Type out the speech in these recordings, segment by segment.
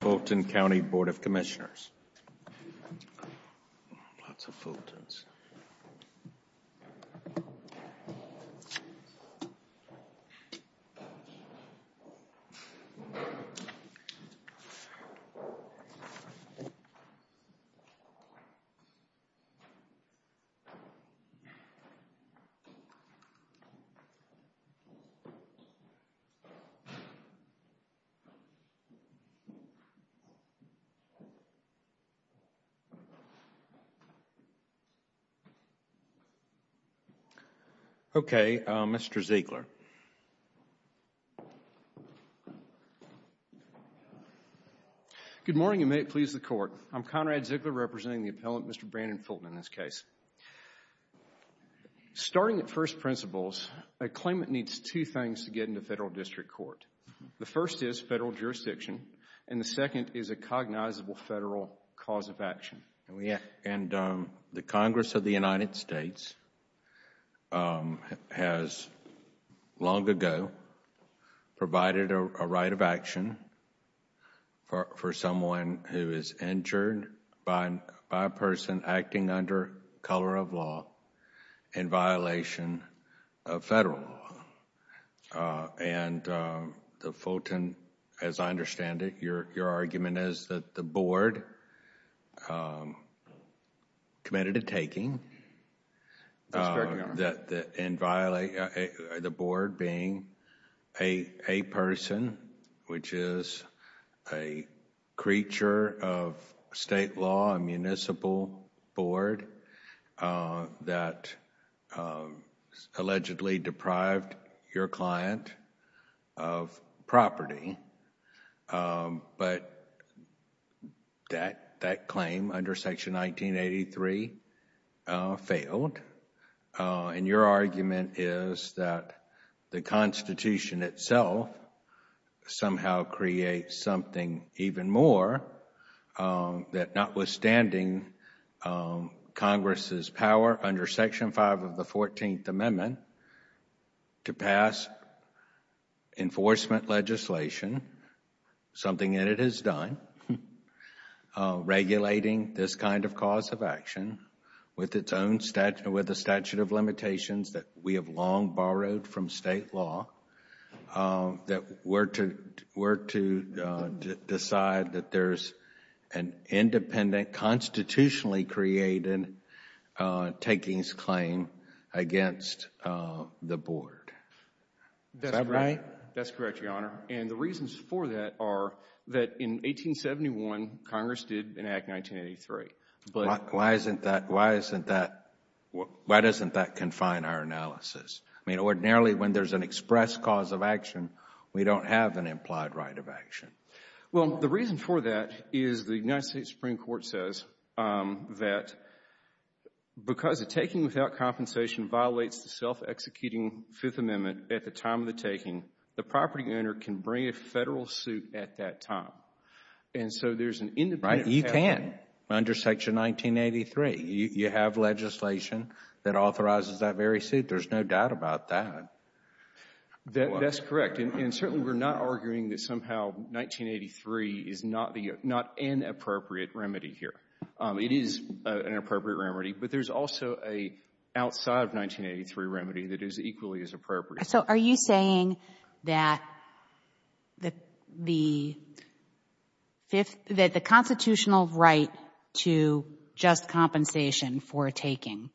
Fulton County Board of Commissioners Okay, Mr. Ziegler. Good morning and may it please the Court. I'm Conrad Ziegler representing the appellant, Mr. Brandon Fulton, in this case. Starting at first principles, a claimant needs two things to get into federal district court. The first is federal jurisdiction and the second is a cognizable federal cause of action. And the Congress of the United States has long ago provided a right of action for someone who is injured by a person acting under color of law in violation of federal law. And the Fulton, as I understand it, your argument is that the board committed a taking, the board being a person, which is a creature of state law, a municipal board that allegedly deprived your client of property, but that claim under Section 1983 failed and your argument is that the Constitution itself somehow creates something even more that notwithstanding Congress's power under Section 5 of the 14th Amendment to pass enforcement legislation, something that it has done, regulating this kind of cause of action with its own statute, with a statute that we have long borrowed from state law, that we're to decide that there's an independent, constitutionally created takings claim against the board. Is that right? That's correct, Your Honor. And the reasons for that are that in 1871, Congress did in Act 1983. Why doesn't that confine our analysis? I mean, ordinarily when there's an express cause of action, we don't have an implied right of action. Well, the reason for that is the United States Supreme Court says that because a taking without compensation violates the self-executing Fifth Amendment at the time of the taking, the property owner can bring a federal suit at that time. And so there's an independent. You can under Section 1983. You have legislation that authorizes that very suit. There's no doubt about that. That's correct. And certainly we're not arguing that somehow 1983 is not an appropriate remedy here. It is an appropriate remedy, but there's also an outside of 1983 remedy that is equally as appropriate. So are you saying that the constitutional right to just compensation for a taking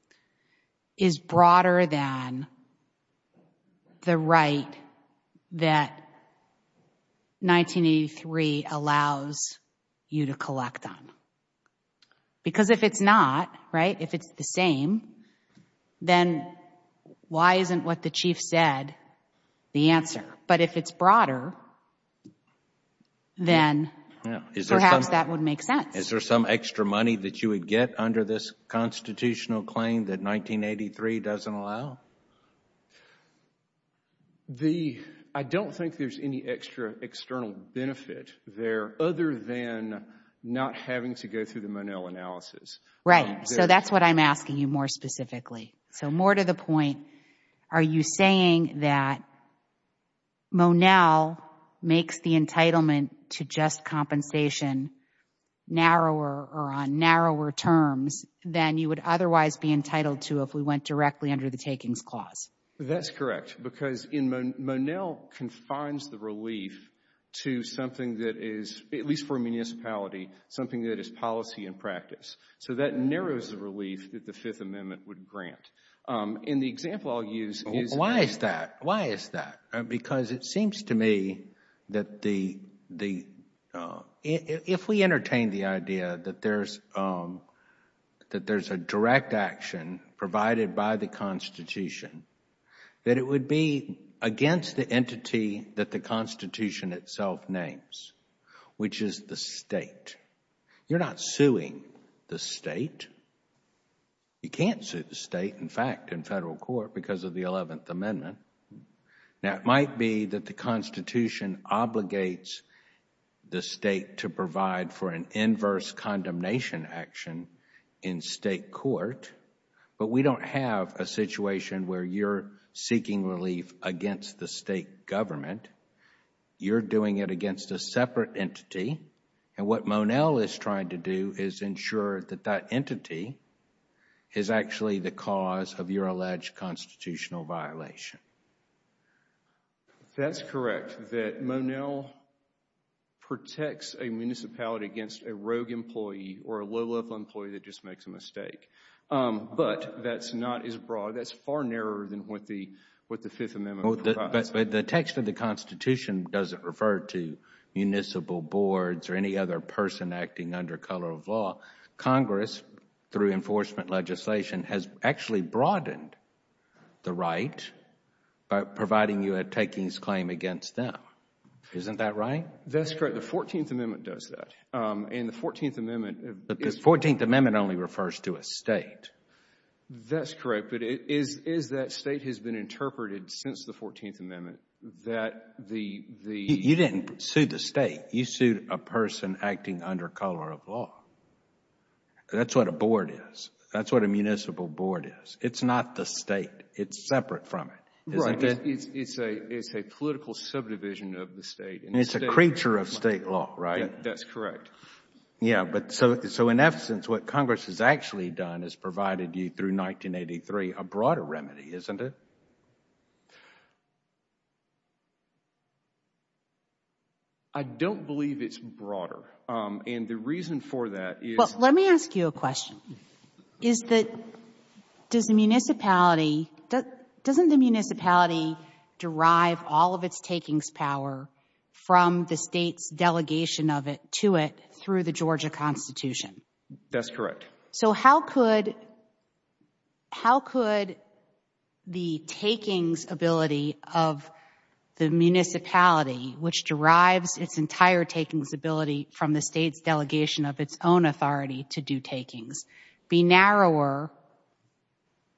is broader than the right that 1983 allows you to collect on? Because if it's not, right, if it's the same, then why isn't what the Chief said the answer? But if it's broader, then perhaps that would make sense. Is there some extra money that you would get under this constitutional claim that 1983 doesn't allow? The, I don't think there's any extra external benefit there other than not having to go through the Monell analysis. Right. So that's what I'm asking you more specifically. So more to the point, are you saying that Monell makes the entitlement to just compensation narrower or on narrower terms than you would otherwise be entitled to if we went directly under the takings clause? That's correct. Because Monell confines the relief to something that is, at least for a municipality, something that is policy in practice. So that narrows the relief that the Fifth Amendment would grant. In the example I'll use is Why is that? Why is that? Because it seems to me that the, if we entertain the idea that there's a direct action provided by the Constitution, that it would be against the entity that the Constitution itself names, which is the State. You're not suing the State. You can't sue the State, in fact, in Federal court because of the Eleventh Amendment. Now, it might be that the Constitution obligates the State to provide for an inverse condemnation action in State court, but we don't have a situation where you're seeking relief against the State government. You're doing it against a separate entity, and what Monell is trying to do is ensure that that entity is actually the cause of your alleged constitutional violation. That's correct, that Monell protects a municipality against a rogue employee or a low-level employee that just makes a mistake, but that's not as broad, that's far narrower than what the Fifth Amendment provides. But the text of the Constitution doesn't refer to municipal boards or any other person acting under color of law. Congress, through enforcement legislation, has actually broadened the right by providing you a takings claim against them. Isn't that right? That's correct. The Fourteenth Amendment does that, and the Fourteenth Amendment... But the Fourteenth Amendment only refers to a State. That's correct, but it is that State has been interpreted since the Fourteenth Amendment that the... You didn't sue the State. You sued a person acting under color of law. That's what a board is. That's what a municipal board is. It's not the State. It's separate from it. It's a political subdivision of the State. It's a creature of State law, right? That's correct. Yeah, but so in essence, what Congress has actually done is provided you, through 1983, a broader remedy, isn't it? I don't believe it's broader, and the reason for that is... Well, let me ask you a question. Is the... does the municipality... doesn't the municipality derive all of its takings power from the State's delegation of it to it through the Georgia Constitution? That's correct. So how could the takings ability of the municipality, which derives its entire takings ability from the State's delegation of its own authority to do takings, be narrower?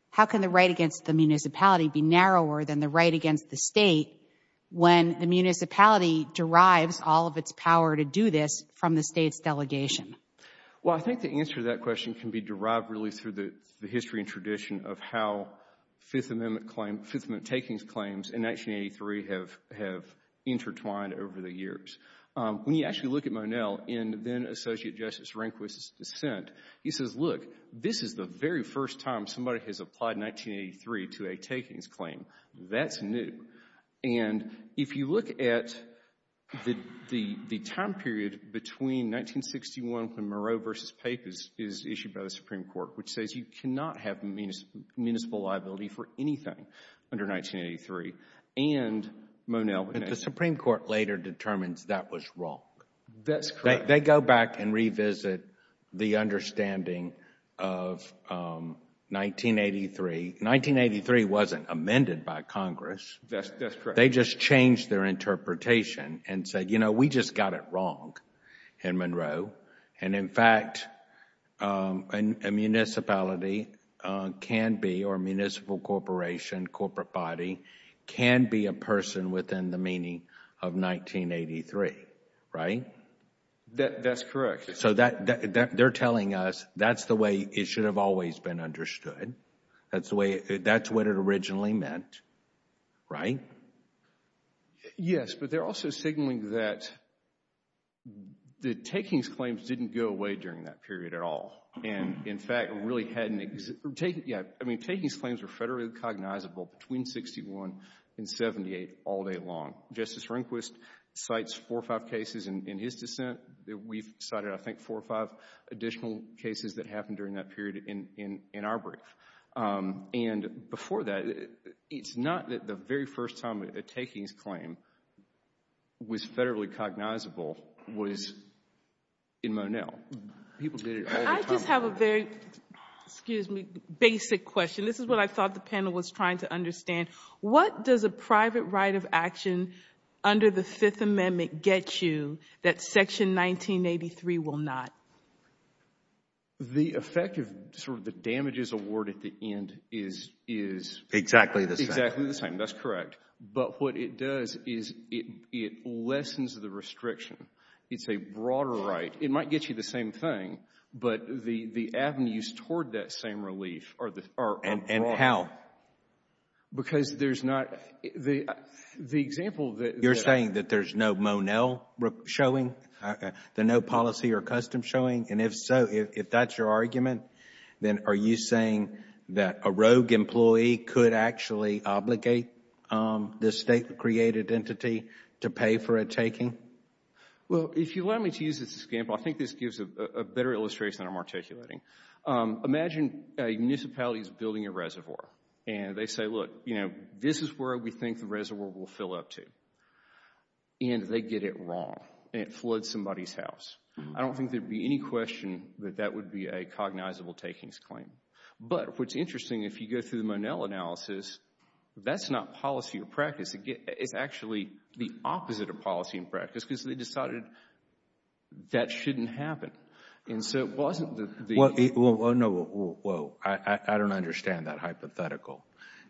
How can the right against the municipality be narrower than the right against the State when the municipality derives all of its power to do this from the State's delegation? Well, I think the answer to that question can be derived really through the history and tradition of how Fifth Amendment claim... Fifth Amendment takings claims in 1983 have intertwined over the years. When you actually look at Monell in then-Associate Justice Rehnquist's dissent, he says, look, this is the very first time somebody has applied 1983 to a takings claim. That's new. And if you look at the time period between 1961 when Moreau v. Pape is issued by the Supreme Court, which says you cannot have municipal liability for anything under 1983 and Monell... But the Supreme Court later determines that was wrong. That's correct. They go back and revisit the understanding of 1983. 1983 wasn't amended by Congress. They just changed their interpretation and said, you know, we just got it wrong in Monroe. And in fact, a municipality can be, or municipal corporation, corporate body, can be a person within the meaning of 1983, right? That's correct. So they're telling us that's the way it should have always been understood. That's the way... that's what it originally meant, right? Yes, but they're also signaling that the takings claims didn't go away during that period at all and, in fact, really hadn't... yeah, I mean, takings claims were federally cognizable between 1961 and 1978 all day long. Justice Rehnquist cites four or five cases in his dissent. We've cited, I think, four or five additional cases that happened during that period in our brief. And before that, it's not that the very first time a takings claim was federally cognizable was in Mon-El. People did it all the time. I just have a very, excuse me, basic question. This is what I thought the panel was trying to understand. What does a private right of action under the Fifth Amendment get you that Section 1983 will not? The effect of sort of the damages award at the end is... Exactly the same. Exactly the same. That's correct. But what it does is it lessens the restriction. It's a broader right. It might get you the same thing, but the avenues toward that same relief are broader. And how? Because there's not... the example that... And if so, if that's your argument, then are you saying that a rogue employee could actually obligate the state-created entity to pay for a taking? Well, if you allow me to use this as an example, I think this gives a better illustration than I'm articulating. Imagine a municipality is building a reservoir. And they say, look, you know, this is where we think the reservoir will fill up to. And they get it wrong. It floods somebody's house. I don't think there'd be any question that that would be a cognizable takings claim. But what's interesting, if you go through the Monell analysis, that's not policy or practice. It's actually the opposite of policy and practice because they decided that shouldn't happen. And so it wasn't... Well, no, I don't understand that hypothetical.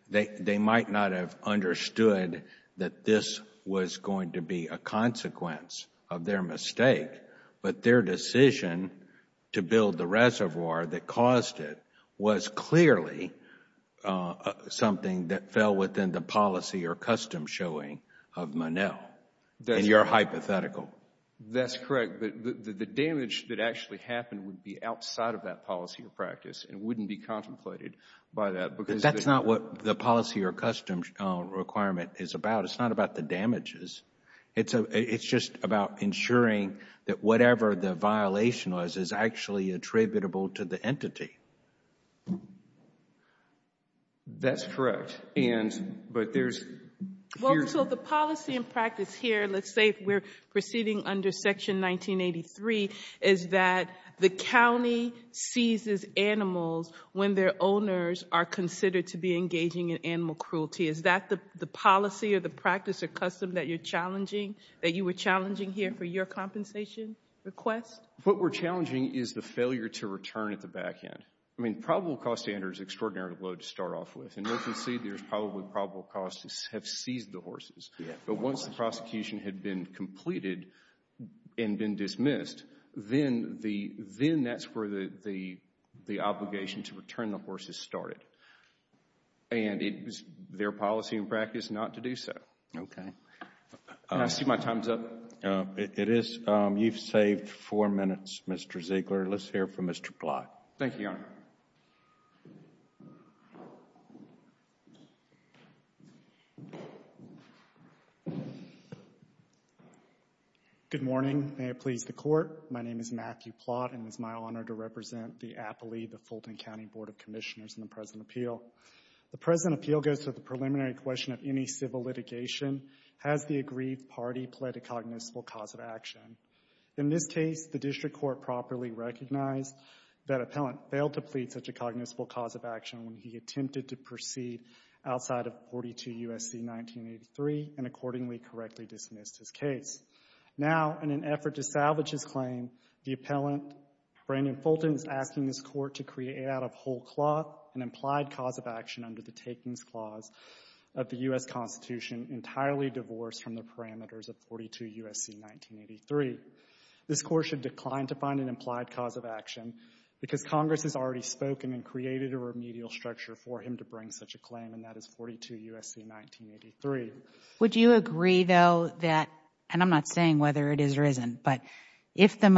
They might not have understood that this was going to be a consequence of their mistake. But their decision to build the reservoir that caused it was clearly something that fell within the policy or custom showing of Monell. And you're hypothetical. That's correct. But the damage that actually happened would be outside of that policy or practice and wouldn't be contemplated by that because... That's not what the policy or custom requirement is about. It's not about the damages. It's just about ensuring that whatever the violation was is actually attributable to the entity. That's correct. And, but there's... Well, so the policy and practice here, let's say we're proceeding under Section 1983, is that the county seizes animals when their owners are considered to be engaging in animal cruelty. Is that the policy or the practice or custom that you're challenging, that you were challenging here for your compensation request? What we're challenging is the failure to return at the back end. I mean, probable cause standards are extraordinarily low to start off with. But once the prosecution had been completed and been dismissed, then that's where the obligation to return the horses started. And it was their policy and practice not to do so. Okay. And I see my time's up. It is. You've saved four minutes, Mr. Ziegler. Let's hear from Mr. Plott. Thank you, Your Honor. Good morning. May it please the Court. My name is Matthew Plott, and it's my honor to represent the appellee, the Fulton County Board of Commissioners, in the present appeal. The present appeal goes to the preliminary question of any civil litigation. Has the agreed party pled a cognizant cause of action? In this case, the district court properly recognized that appellant failed to plead such a cognizant cause of action when he attempted to proceed outside of 42 U.S.C. 1983 and accordingly correctly dismissed his case. Now, in an effort to salvage his claim, the appellant, Brandon Fulton, is asking this court to create out of whole cloth an implied cause of action under the takings clause of the U.S. Constitution entirely divorced from the parameters of 42 U.S.C. 1983. This court should decline to find an implied cause of action because Congress has already spoken and created a remedial structure for him to bring such a claim, and that is 42 U.S.C. 1983. Would you agree, though, that, and I'm not saying whether it is or isn't, but if the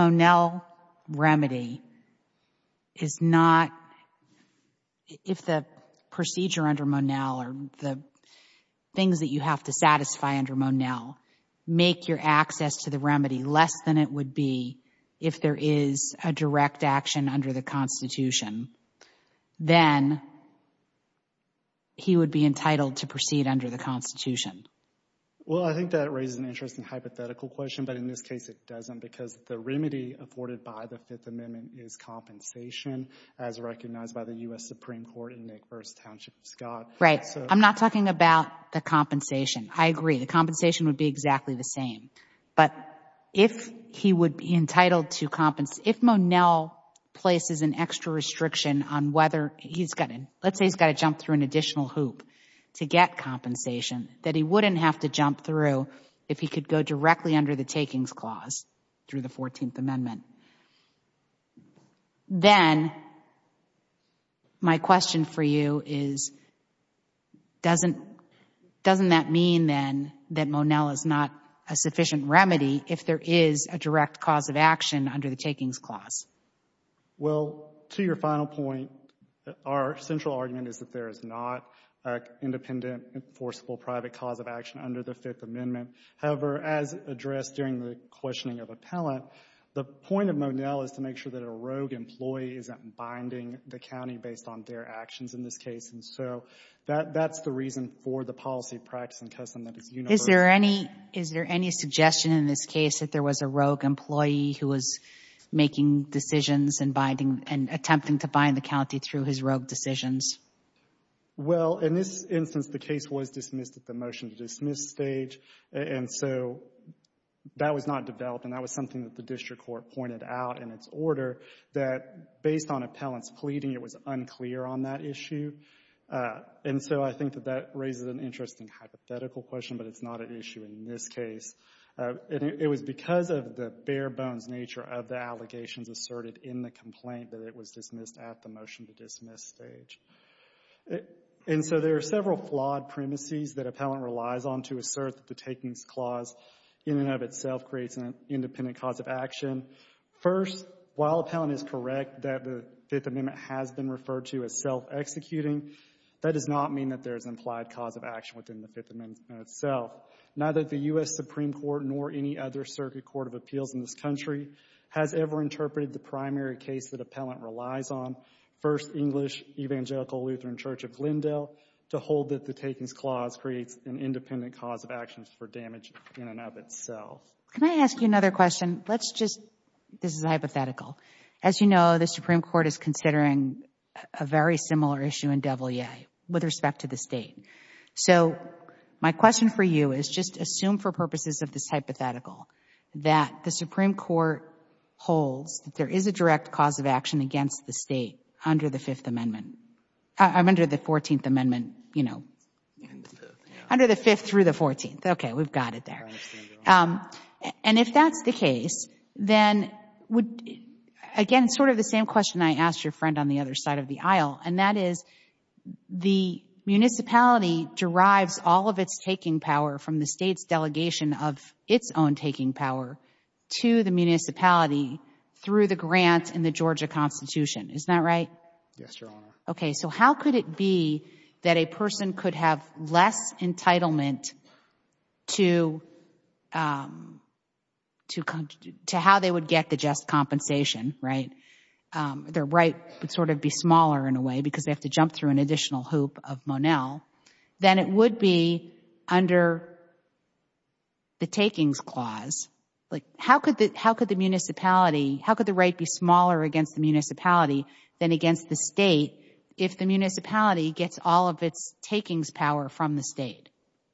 things that you have to satisfy under Monell make your access to the remedy less than it would be if there is a direct action under the Constitution, then he would be entitled to proceed under the Constitution? Well, I think that raises an interesting hypothetical question, but in this case it doesn't because the remedy afforded by the Fifth Amendment is compensation as recognized by the U.S. Supreme Court in Nick v. Township, Scott. I'm not talking about the compensation. I agree. The compensation would be exactly the same, but if he would be entitled to, if Monell places an extra restriction on whether, let's say he's got to jump through an additional hoop to get compensation, that he wouldn't have to jump through if he could go directly under the takings clause through the Fourteenth Amendment. Then, my question for you is, doesn't that mean, then, that Monell is not a sufficient remedy if there is a direct cause of action under the takings clause? Well, to your final point, our central argument is that there is not an independent, enforceable private cause of action under the Fifth Amendment. However, as addressed during the questioning of appellant, the point of the Fifth Amendment and the point of Monell is to make sure that a rogue employee isn't binding the county based on their actions in this case, and so that's the reason for the policy, practice, and custom that is universal. Is there any suggestion in this case that there was a rogue employee who was making decisions and attempting to bind the county through his rogue decisions? Well, in this instance, the case was dismissed at the motion to dismiss stage, and so that was not developed, and that was something that the district court pointed out in its order, that based on appellant's pleading, it was unclear on that issue. And so I think that that raises an interesting hypothetical question, but it's not an issue in this case. And it was because of the bare-bones nature of the allegations asserted in the complaint that it was dismissed at the motion to dismiss stage. And so there are several flawed premises that appellant relies on to assert that the takings clause in and of itself creates an independent cause of action. First, while appellant is correct that the Fifth Amendment has been referred to as self-executing, that does not mean that there is implied cause of action within the Fifth Amendment itself. Neither the U.S. Supreme Court nor any other circuit court of appeals in this country has ever interpreted the primary case that appellant relies on, First English Evangelical Lutheran Church of Glendale, to hold that the takings clause creates an independent cause of action for damage in and of itself. Can I ask you another question? Let's just, this is a hypothetical. As you know, the Supreme Court is considering a very similar issue in W.A. with respect to the State. So my question for you is just assume for purposes of this hypothetical that the Supreme Court holds that there is a direct cause of action against the State under the Fifth Amendment, under the Fourteenth Amendment, you know, under the Fifth through the Fourteenth. Okay, we've got it there. And if that's the case, then would, again, sort of the same question I asked your friend on the other side of the aisle, and that is the municipality derives all of its taking power from the State's delegation of its own taking power to the municipality through the grant in the Georgia Constitution. Isn't that right? Yes, Your Honor. Okay, so how could it be that a person could have less entitlement to how they would get the just compensation, right? Their right would sort of be smaller in a way because they have to jump through an additional hoop of Monell than it would be under the takings clause. Like, how could the municipality, how could the right be smaller against the municipality than against the State if the municipality gets all of its takings power from the State?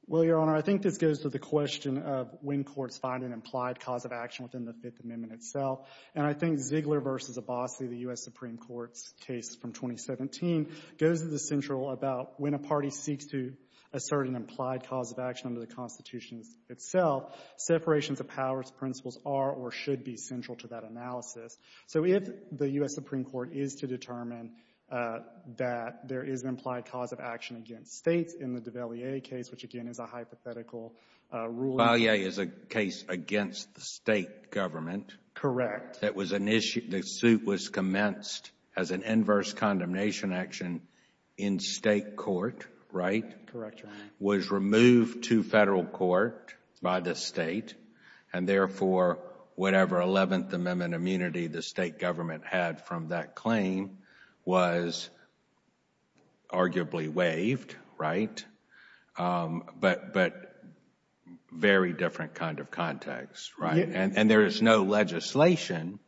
Well, Your Honor, I think this goes to the question of when courts find an implied cause of action within the Fifth Amendment itself. And I think Ziegler v. Abbasi, the U.S. Supreme Court's case from 2017, goes to the central about when a party seeks to assert an implied cause of action under the Constitution itself, separations of powers principles are or should be central to that analysis. So if the U.S. Supreme Court is to determine that there is an implied cause of action against States in the Duvalier case, which again is a hypothetical ruling. Duvalier is a case against the State government. Correct. That was an issue, the suit was commenced as an inverse condemnation action in State court, right? Correct, Your Honor. Was removed to Federal court by the State and therefore whatever Eleventh Amendment immunity the State government had from that claim was arguably waived, right? But very different kind of context, right? And there is no legislation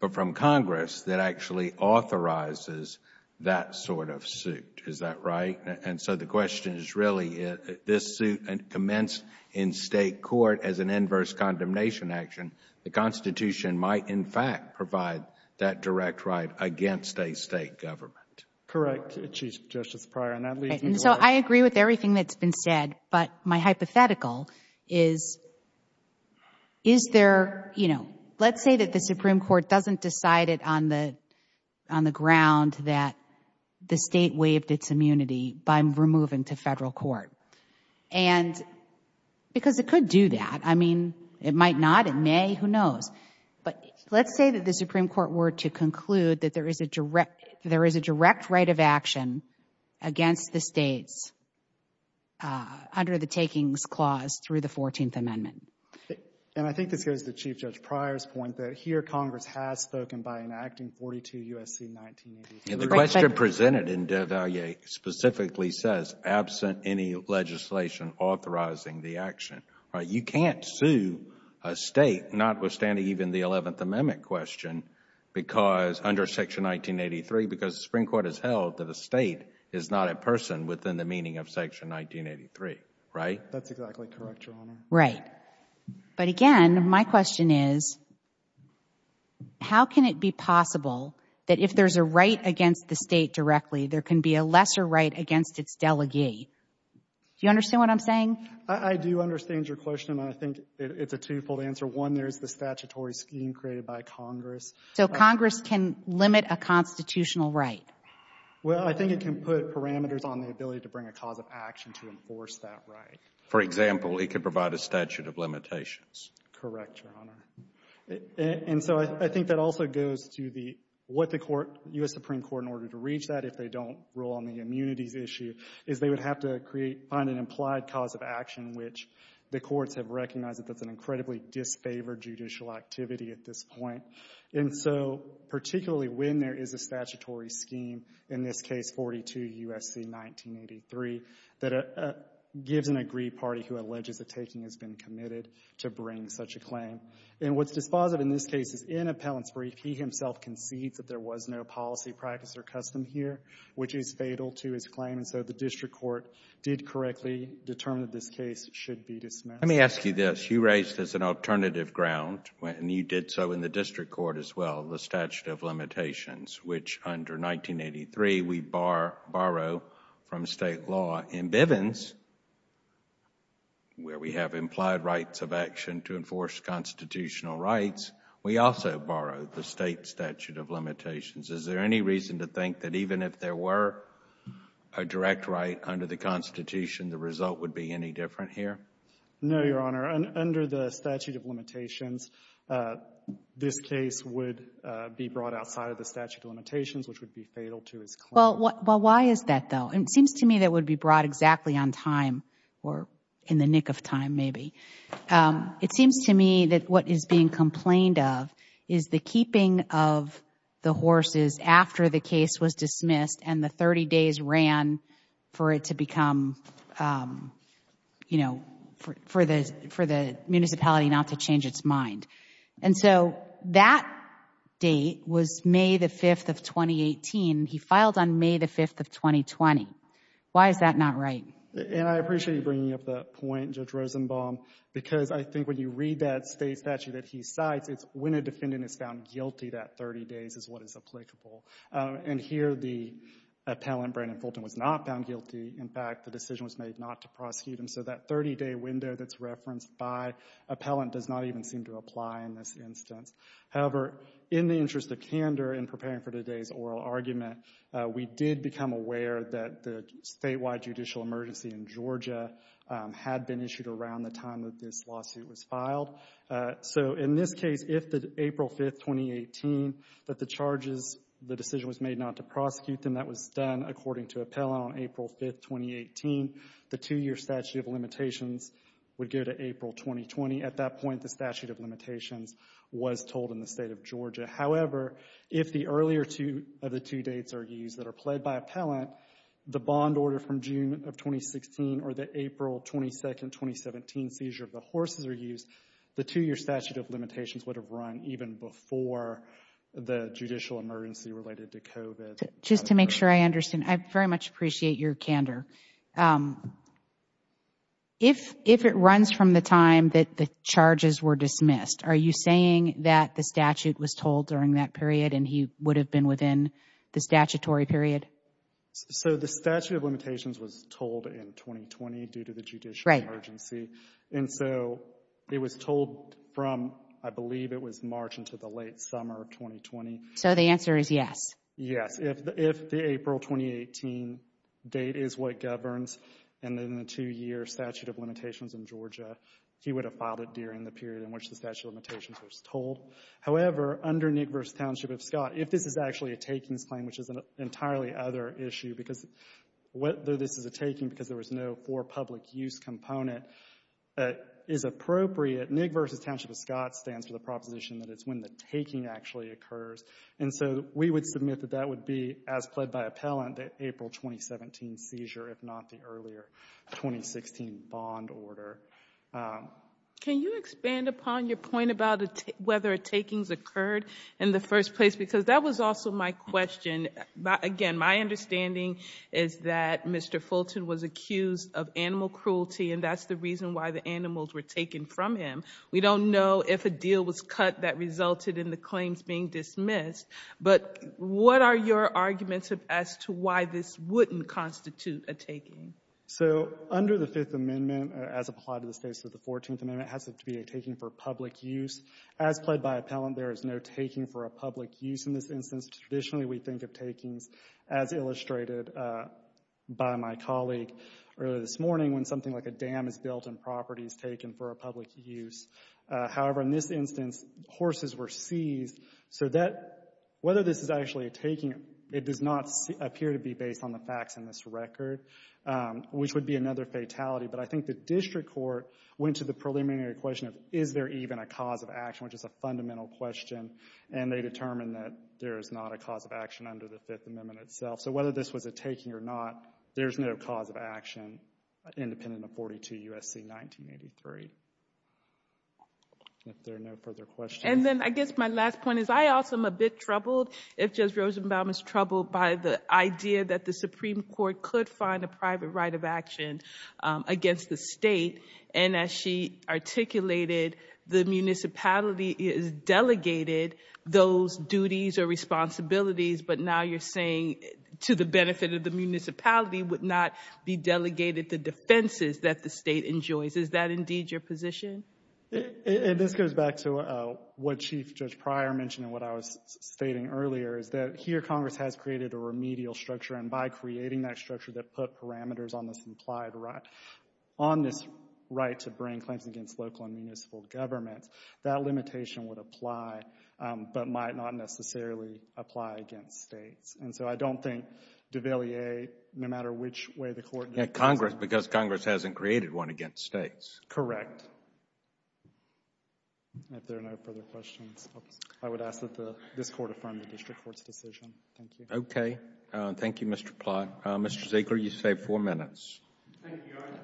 but from Congress that actually authorizes that sort of suit. Is that right? And so the question is really this suit commenced in State court as an inverse condemnation action. The Constitution might in fact provide that direct right against a State government. Correct, Justice Breyer. So I agree with everything that's been said. But my hypothetical is, is there, you know, let's say that the Supreme Court doesn't decide it on the ground that the State waived its immunity by removing to Federal court. And because it could do that. I mean, it might not. It may. Who knows? But let's say that the Supreme Court were to conclude that there is a direct right of action against the States under the takings clause through the Fourteenth Amendment. And I think this goes to Chief Judge Pryor's point that here Congress has spoken by enacting 42 U.S.C. 1983. The question presented in Devalier specifically says absent any legislation authorizing the action, right? You can't sue a State notwithstanding even the Eleventh Amendment question because under Section 1983 because the Supreme Court has held that a State is not a person within the meaning of Section 1983, right? That's exactly correct, Your Honor. Right. But again, my question is, how can it be possible that if there's a right against the State directly, there can be a lesser right against its delegee? Do you understand what I'm saying? I do understand your question. I think it's a twofold answer. One, there's the statutory scheme created by Congress. So Congress can limit a constitutional right? Well, I think it can put parameters on the ability to bring a cause of action to enforce that right. For example, it can provide a statute of limitations. Correct, Your Honor. And so I think that also goes to what the U.S. Supreme Court, in order to reach that if they don't rule on the immunities issue, is they would have to find an implied cause of action, which the courts have recognized that that's an incredibly disfavored judicial activity at this point. And so particularly when there is a statutory scheme, in this case 42 U.S.C. 1983, that gives an agreed party who alleges a taking has been committed to bring such a claim. And what's dispositive in this case is in Appellant's brief, he himself concedes that there was no policy, practice, or custom here, which is fatal to his claim. And so the district court did correctly determine that this case should be dismissed. Let me ask you this. You raised as an alternative ground, and you did so in the district court as well, the case where we have implied rights of action to enforce constitutional rights, we also borrow the State statute of limitations. Is there any reason to think that even if there were a direct right under the Constitution, the result would be any different here? No, Your Honor. Under the statute of limitations, this case would be brought outside of the statute of limitations, which would be fatal to his claim. Well, why is that, though? It seems to me that it would be brought exactly on time or in the nick of time, maybe. It seems to me that what is being complained of is the keeping of the horses after the case was dismissed and the 30 days ran for it to become, you know, for the municipality not to change its mind. And so that date was May the 5th of 2018. He filed on May the 5th of 2020. Why is that not right? And I appreciate you bringing up that point, Judge Rosenbaum, because I think when you read that State statute that he cites, it's when a defendant is found guilty that 30 days is what is applicable. And here the appellant, Brandon Fulton, was not found guilty. In fact, the decision was made not to prosecute him. So that 30-day window that's referenced by appellant does not even seem to apply in this instance. However, in the interest of candor in preparing for today's oral argument, we did become aware that the statewide judicial emergency in Georgia had been issued around the time that this lawsuit was filed. So in this case, if the April 5th, 2018, that the charges, the decision was made not to prosecute them, that was done according to appellant on April 5th, 2018, the two-year statute of limitations would go to April 2020. At that point, the statute of limitations was told in the State of Georgia. However, if the earlier two of the two dates are used that are pled by appellant, the bond order from June of 2016 or the April 22nd, 2017 seizure of the horses are used, the two-year statute of limitations would have run even before the judicial emergency related to COVID. Just to make sure I understand, I very much appreciate your candor. Um, if, if it runs from the time that the charges were dismissed, are you saying that the statute was told during that period and he would have been within the statutory period? So the statute of limitations was told in 2020 due to the judicial emergency. And so it was told from, I believe it was March into the late summer of 2020. So the answer is yes. Yes, if the April 2018 date is what governs and then the two-year statute of limitations in Georgia, he would have filed it during the period in which the statute of limitations was told. However, under NIC v. Township of Scott, if this is actually a takings claim, which is an entirely other issue, because what though this is a taking because there was no for public use component is appropriate. NIC v. Township of Scott stands for the proposition that it's when the taking actually occurs. And so we would submit that that would be as pled by appellant that April 2017 seizure, if not the earlier 2016 bond order. Can you expand upon your point about whether takings occurred in the first place? Because that was also my question. Again, my understanding is that Mr. Fulton was accused of animal cruelty, and that's the reason why the animals were taken from him. We don't know if a deal was cut that resulted in the claims being dismissed, but what are your arguments as to why this wouldn't constitute a taking? So under the Fifth Amendment, as applied to the states of the Fourteenth Amendment, has to be a taking for public use. As pled by appellant, there is no taking for a public use in this instance. Traditionally, we think of takings as illustrated by my colleague earlier this morning when something like a dam is built and property is taken for a public use. However, in this instance, horses were seized. So that — whether this is actually a taking, it does not appear to be based on the facts in this record, which would be another fatality. But I think the district court went to the preliminary question of is there even a cause of action, which is a fundamental question, and they determined that there is not a cause of action under the Fifth Amendment itself. So whether this was a taking or not, there's no cause of action independent of 42 U.S.C. 1983. If there are no further questions. And then I guess my last point is I also am a bit troubled, if Judge Rosenbaum is troubled, by the idea that the Supreme Court could find a private right of action against the state. And as she articulated, the municipality has delegated those duties or responsibilities, but now you're saying, to the benefit of the municipality, would not be delegated the defenses that the state enjoys. Is that indeed your position? MR. ROSENBAUM. And this goes back to what Chief Judge Pryor mentioned and what I was stating earlier, is that here Congress has created a remedial structure. And by creating that structure that put parameters on this implied right, on this right to bring claims against local and municipal governments, that limitation would apply but might not necessarily apply against states. And so I don't think DeValier, no matter which way the Court does it. JUSTICE ALITO. Yeah, Congress, because Congress hasn't created one against states. MR. ROSENBAUM. Correct. If there are no further questions, I would ask that this Court affirm the district court's decision. Thank you. JUSTICE ALITO. Thank you, Mr. Platt. Mr. Zegler, you saved four minutes. MR. ZEGLER. Thank you, Your Honor.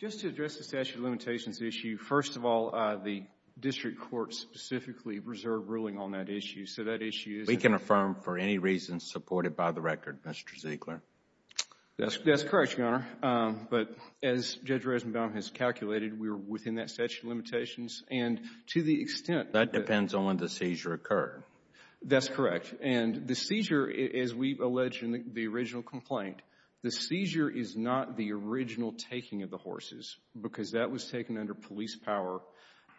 Just to address the statute of limitations issue, first of all, the district court specifically reserved ruling on that issue. So that issue is— JUSTICE ALITO. We can affirm for any reason supported by the record, Mr. Zegler. MR. ZEGLER. That's correct, Your Honor. But as Judge Rosenbaum has calculated, we are within that statute of limitations. And to the extent— JUSTICE ALITO. That depends on when the seizure occurred. MR. ZEGLER. That's correct. And the seizure, as we've alleged in the original complaint, the seizure is not the original taking of the horses because that was taken under police power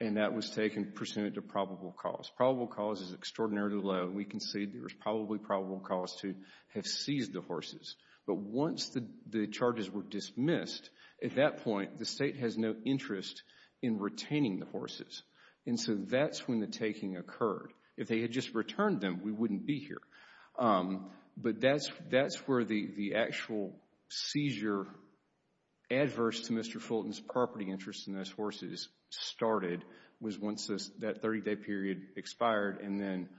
and that was taken pursuant to probable cause. Probable cause is extraordinarily low. We concede there was probably probable cause to have seized the horses. But once the charges were dismissed, at that point, the State has no interest in retaining the horses. And so that's when the taking occurred. If they had just returned them, we wouldn't be here. But that's where the actual seizure adverse to Mr. Fulton's property interest in those horses started, was once that 30-day period expired and then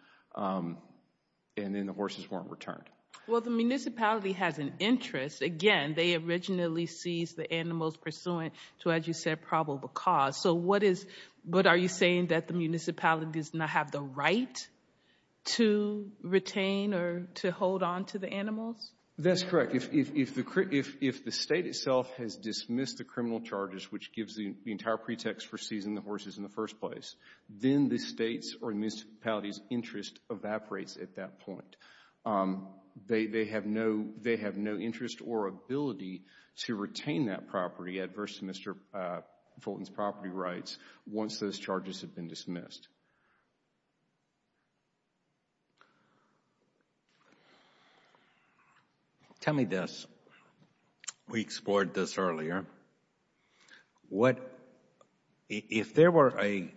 the horses weren't returned. JUSTICE ALITO. Well, the municipality has an interest. Again, they originally seized the animals pursuant to, as you said, probable cause. But are you saying that the municipality does not have the right to retain or to hold on to the animals? MR. ZEGLER. That's correct. If the State itself has dismissed the criminal charges, which gives the entire pretext for seizing the horses in the first place, then the State's or municipality's interest evaporates at that point. They have no interest or ability to retain that property adverse to Mr. Fulton's property rights once those charges have been dismissed. JUSTICE ALITO. Tell me this. We explored this earlier. What, if there were a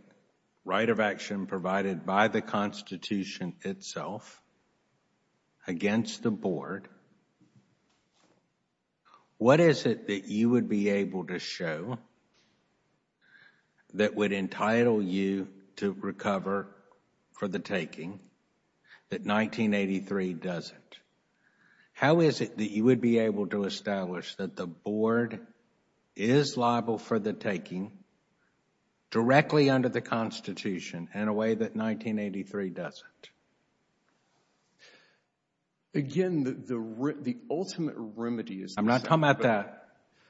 right of action provided by the Constitution itself against the Board, what is it that you would be able to show that would entitle you to recover for the taking that 1983 doesn't? How is it that you would be able to establish that the Board is liable for the taking directly under the Constitution in a way that 1983 doesn't? The ultimate remedy is... I'm not talking about that.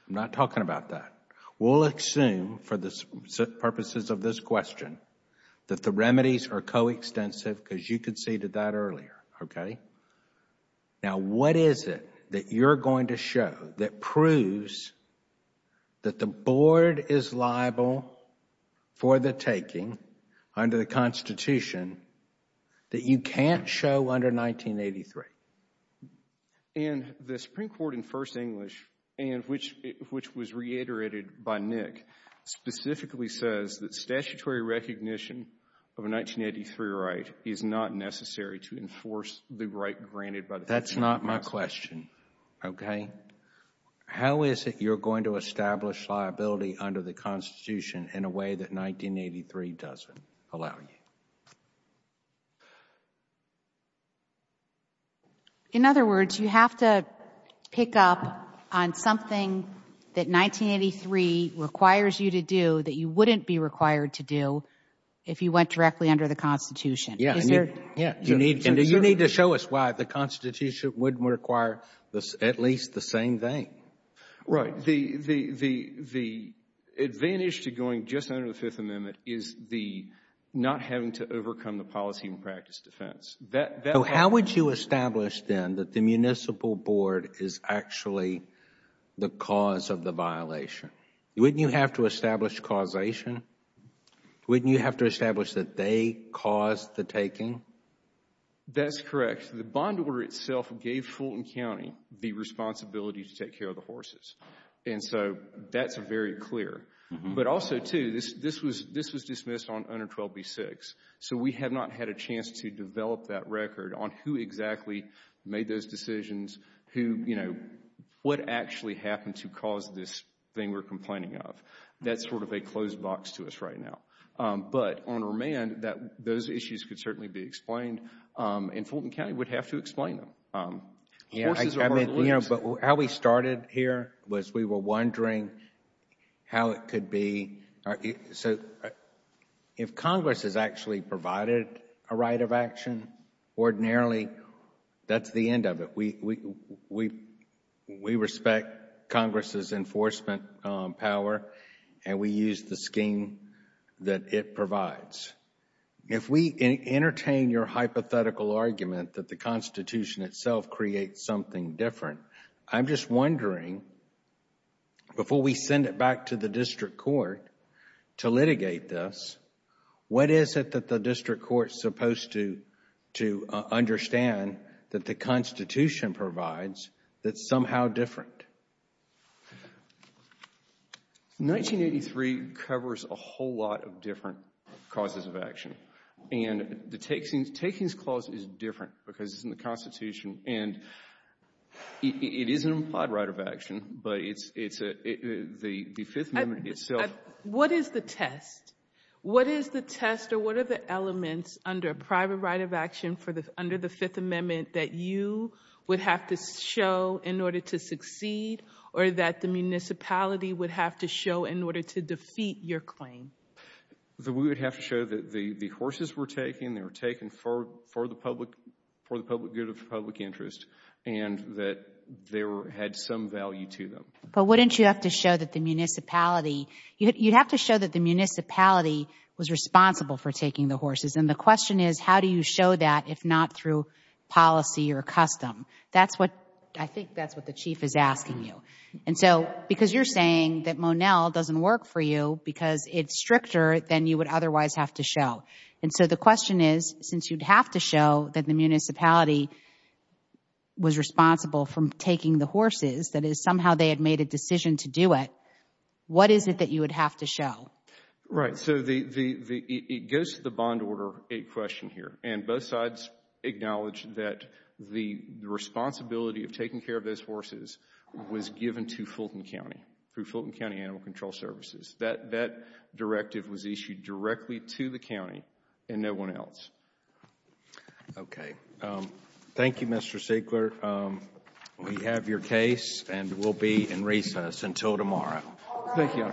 I'm not talking about that. We'll assume for the purposes of this question that the remedies are coextensive because you conceded that earlier. Now, what is it that you're going to show that proves that the Board is liable for the taking under the Constitution that you can't show under 1983? And the Supreme Court in First English, which was reiterated by Nick, specifically says that statutory recognition of a 1983 right is not necessary to enforce the right granted by the Constitution. That's not my question, okay? How is it you're going to establish liability under the Constitution in a way that 1983 doesn't allow you? In other words, you have to pick up on something that 1983 requires you to do that you wouldn't be required to do if you went directly under the Constitution. Is there... Yes. You need to show us why the Constitution wouldn't require at least the same thing. Right, the advantage to going just under the Fifth Amendment is not having to overcome the policy and practice defense. How would you establish then that the Municipal Board is actually the cause of the violation? Wouldn't you have to establish causation? Wouldn't you have to establish that they caused the taking? That's correct. The bond order itself gave Fulton County the responsibility to take care of the horses, and so that's very clear. But also, too, this was dismissed on Under 12b-6, so we have not had a chance to develop that record on who exactly made those decisions, what actually happened to cause this thing we're complaining of. That's sort of a closed box to us right now. But on remand, those issues could certainly be explained. And Fulton County would have to explain them. But how we started here was we were wondering how it could be... So if Congress has actually provided a right of action ordinarily, that's the end of it. We respect Congress's enforcement power, and we use the scheme that it provides. If we entertain your hypothetical argument that the Constitution itself creates something different, I'm just wondering, before we send it back to the district court to litigate this, what is it that the district court is supposed to understand that the Constitution provides that's somehow different? 1983 covers a whole lot of different causes of action, and the Takings Clause is different because it's in the Constitution, and it is an implied right of action, but it's... the Fifth Amendment itself... What is the test? What is the test, or what are the elements under a private right of action under the or that the municipality would have to show in order to defeat your claim? We would have to show that the horses were taken. They were taken for the public good of the public interest, and that they had some value to them. But wouldn't you have to show that the municipality... you'd have to show that the municipality was responsible for taking the horses. And the question is, how do you show that if not through policy or custom? That's what... I think that's what the chief is asking you. And so, because you're saying that Monell doesn't work for you because it's stricter than you would otherwise have to show. And so, the question is, since you'd have to show that the municipality was responsible for taking the horses, that is, somehow they had made a decision to do it, what is it that you would have to show? Right. So, it goes to the Bond Order 8 question here. And both sides acknowledge that the responsibility of taking care of those horses was given to Fulton County, through Fulton County Animal Control Services. That directive was issued directly to the county and no one else. Okay. Thank you, Mr. Siegler. We have your case, and we'll be in recess until tomorrow. Thank you. Thank you.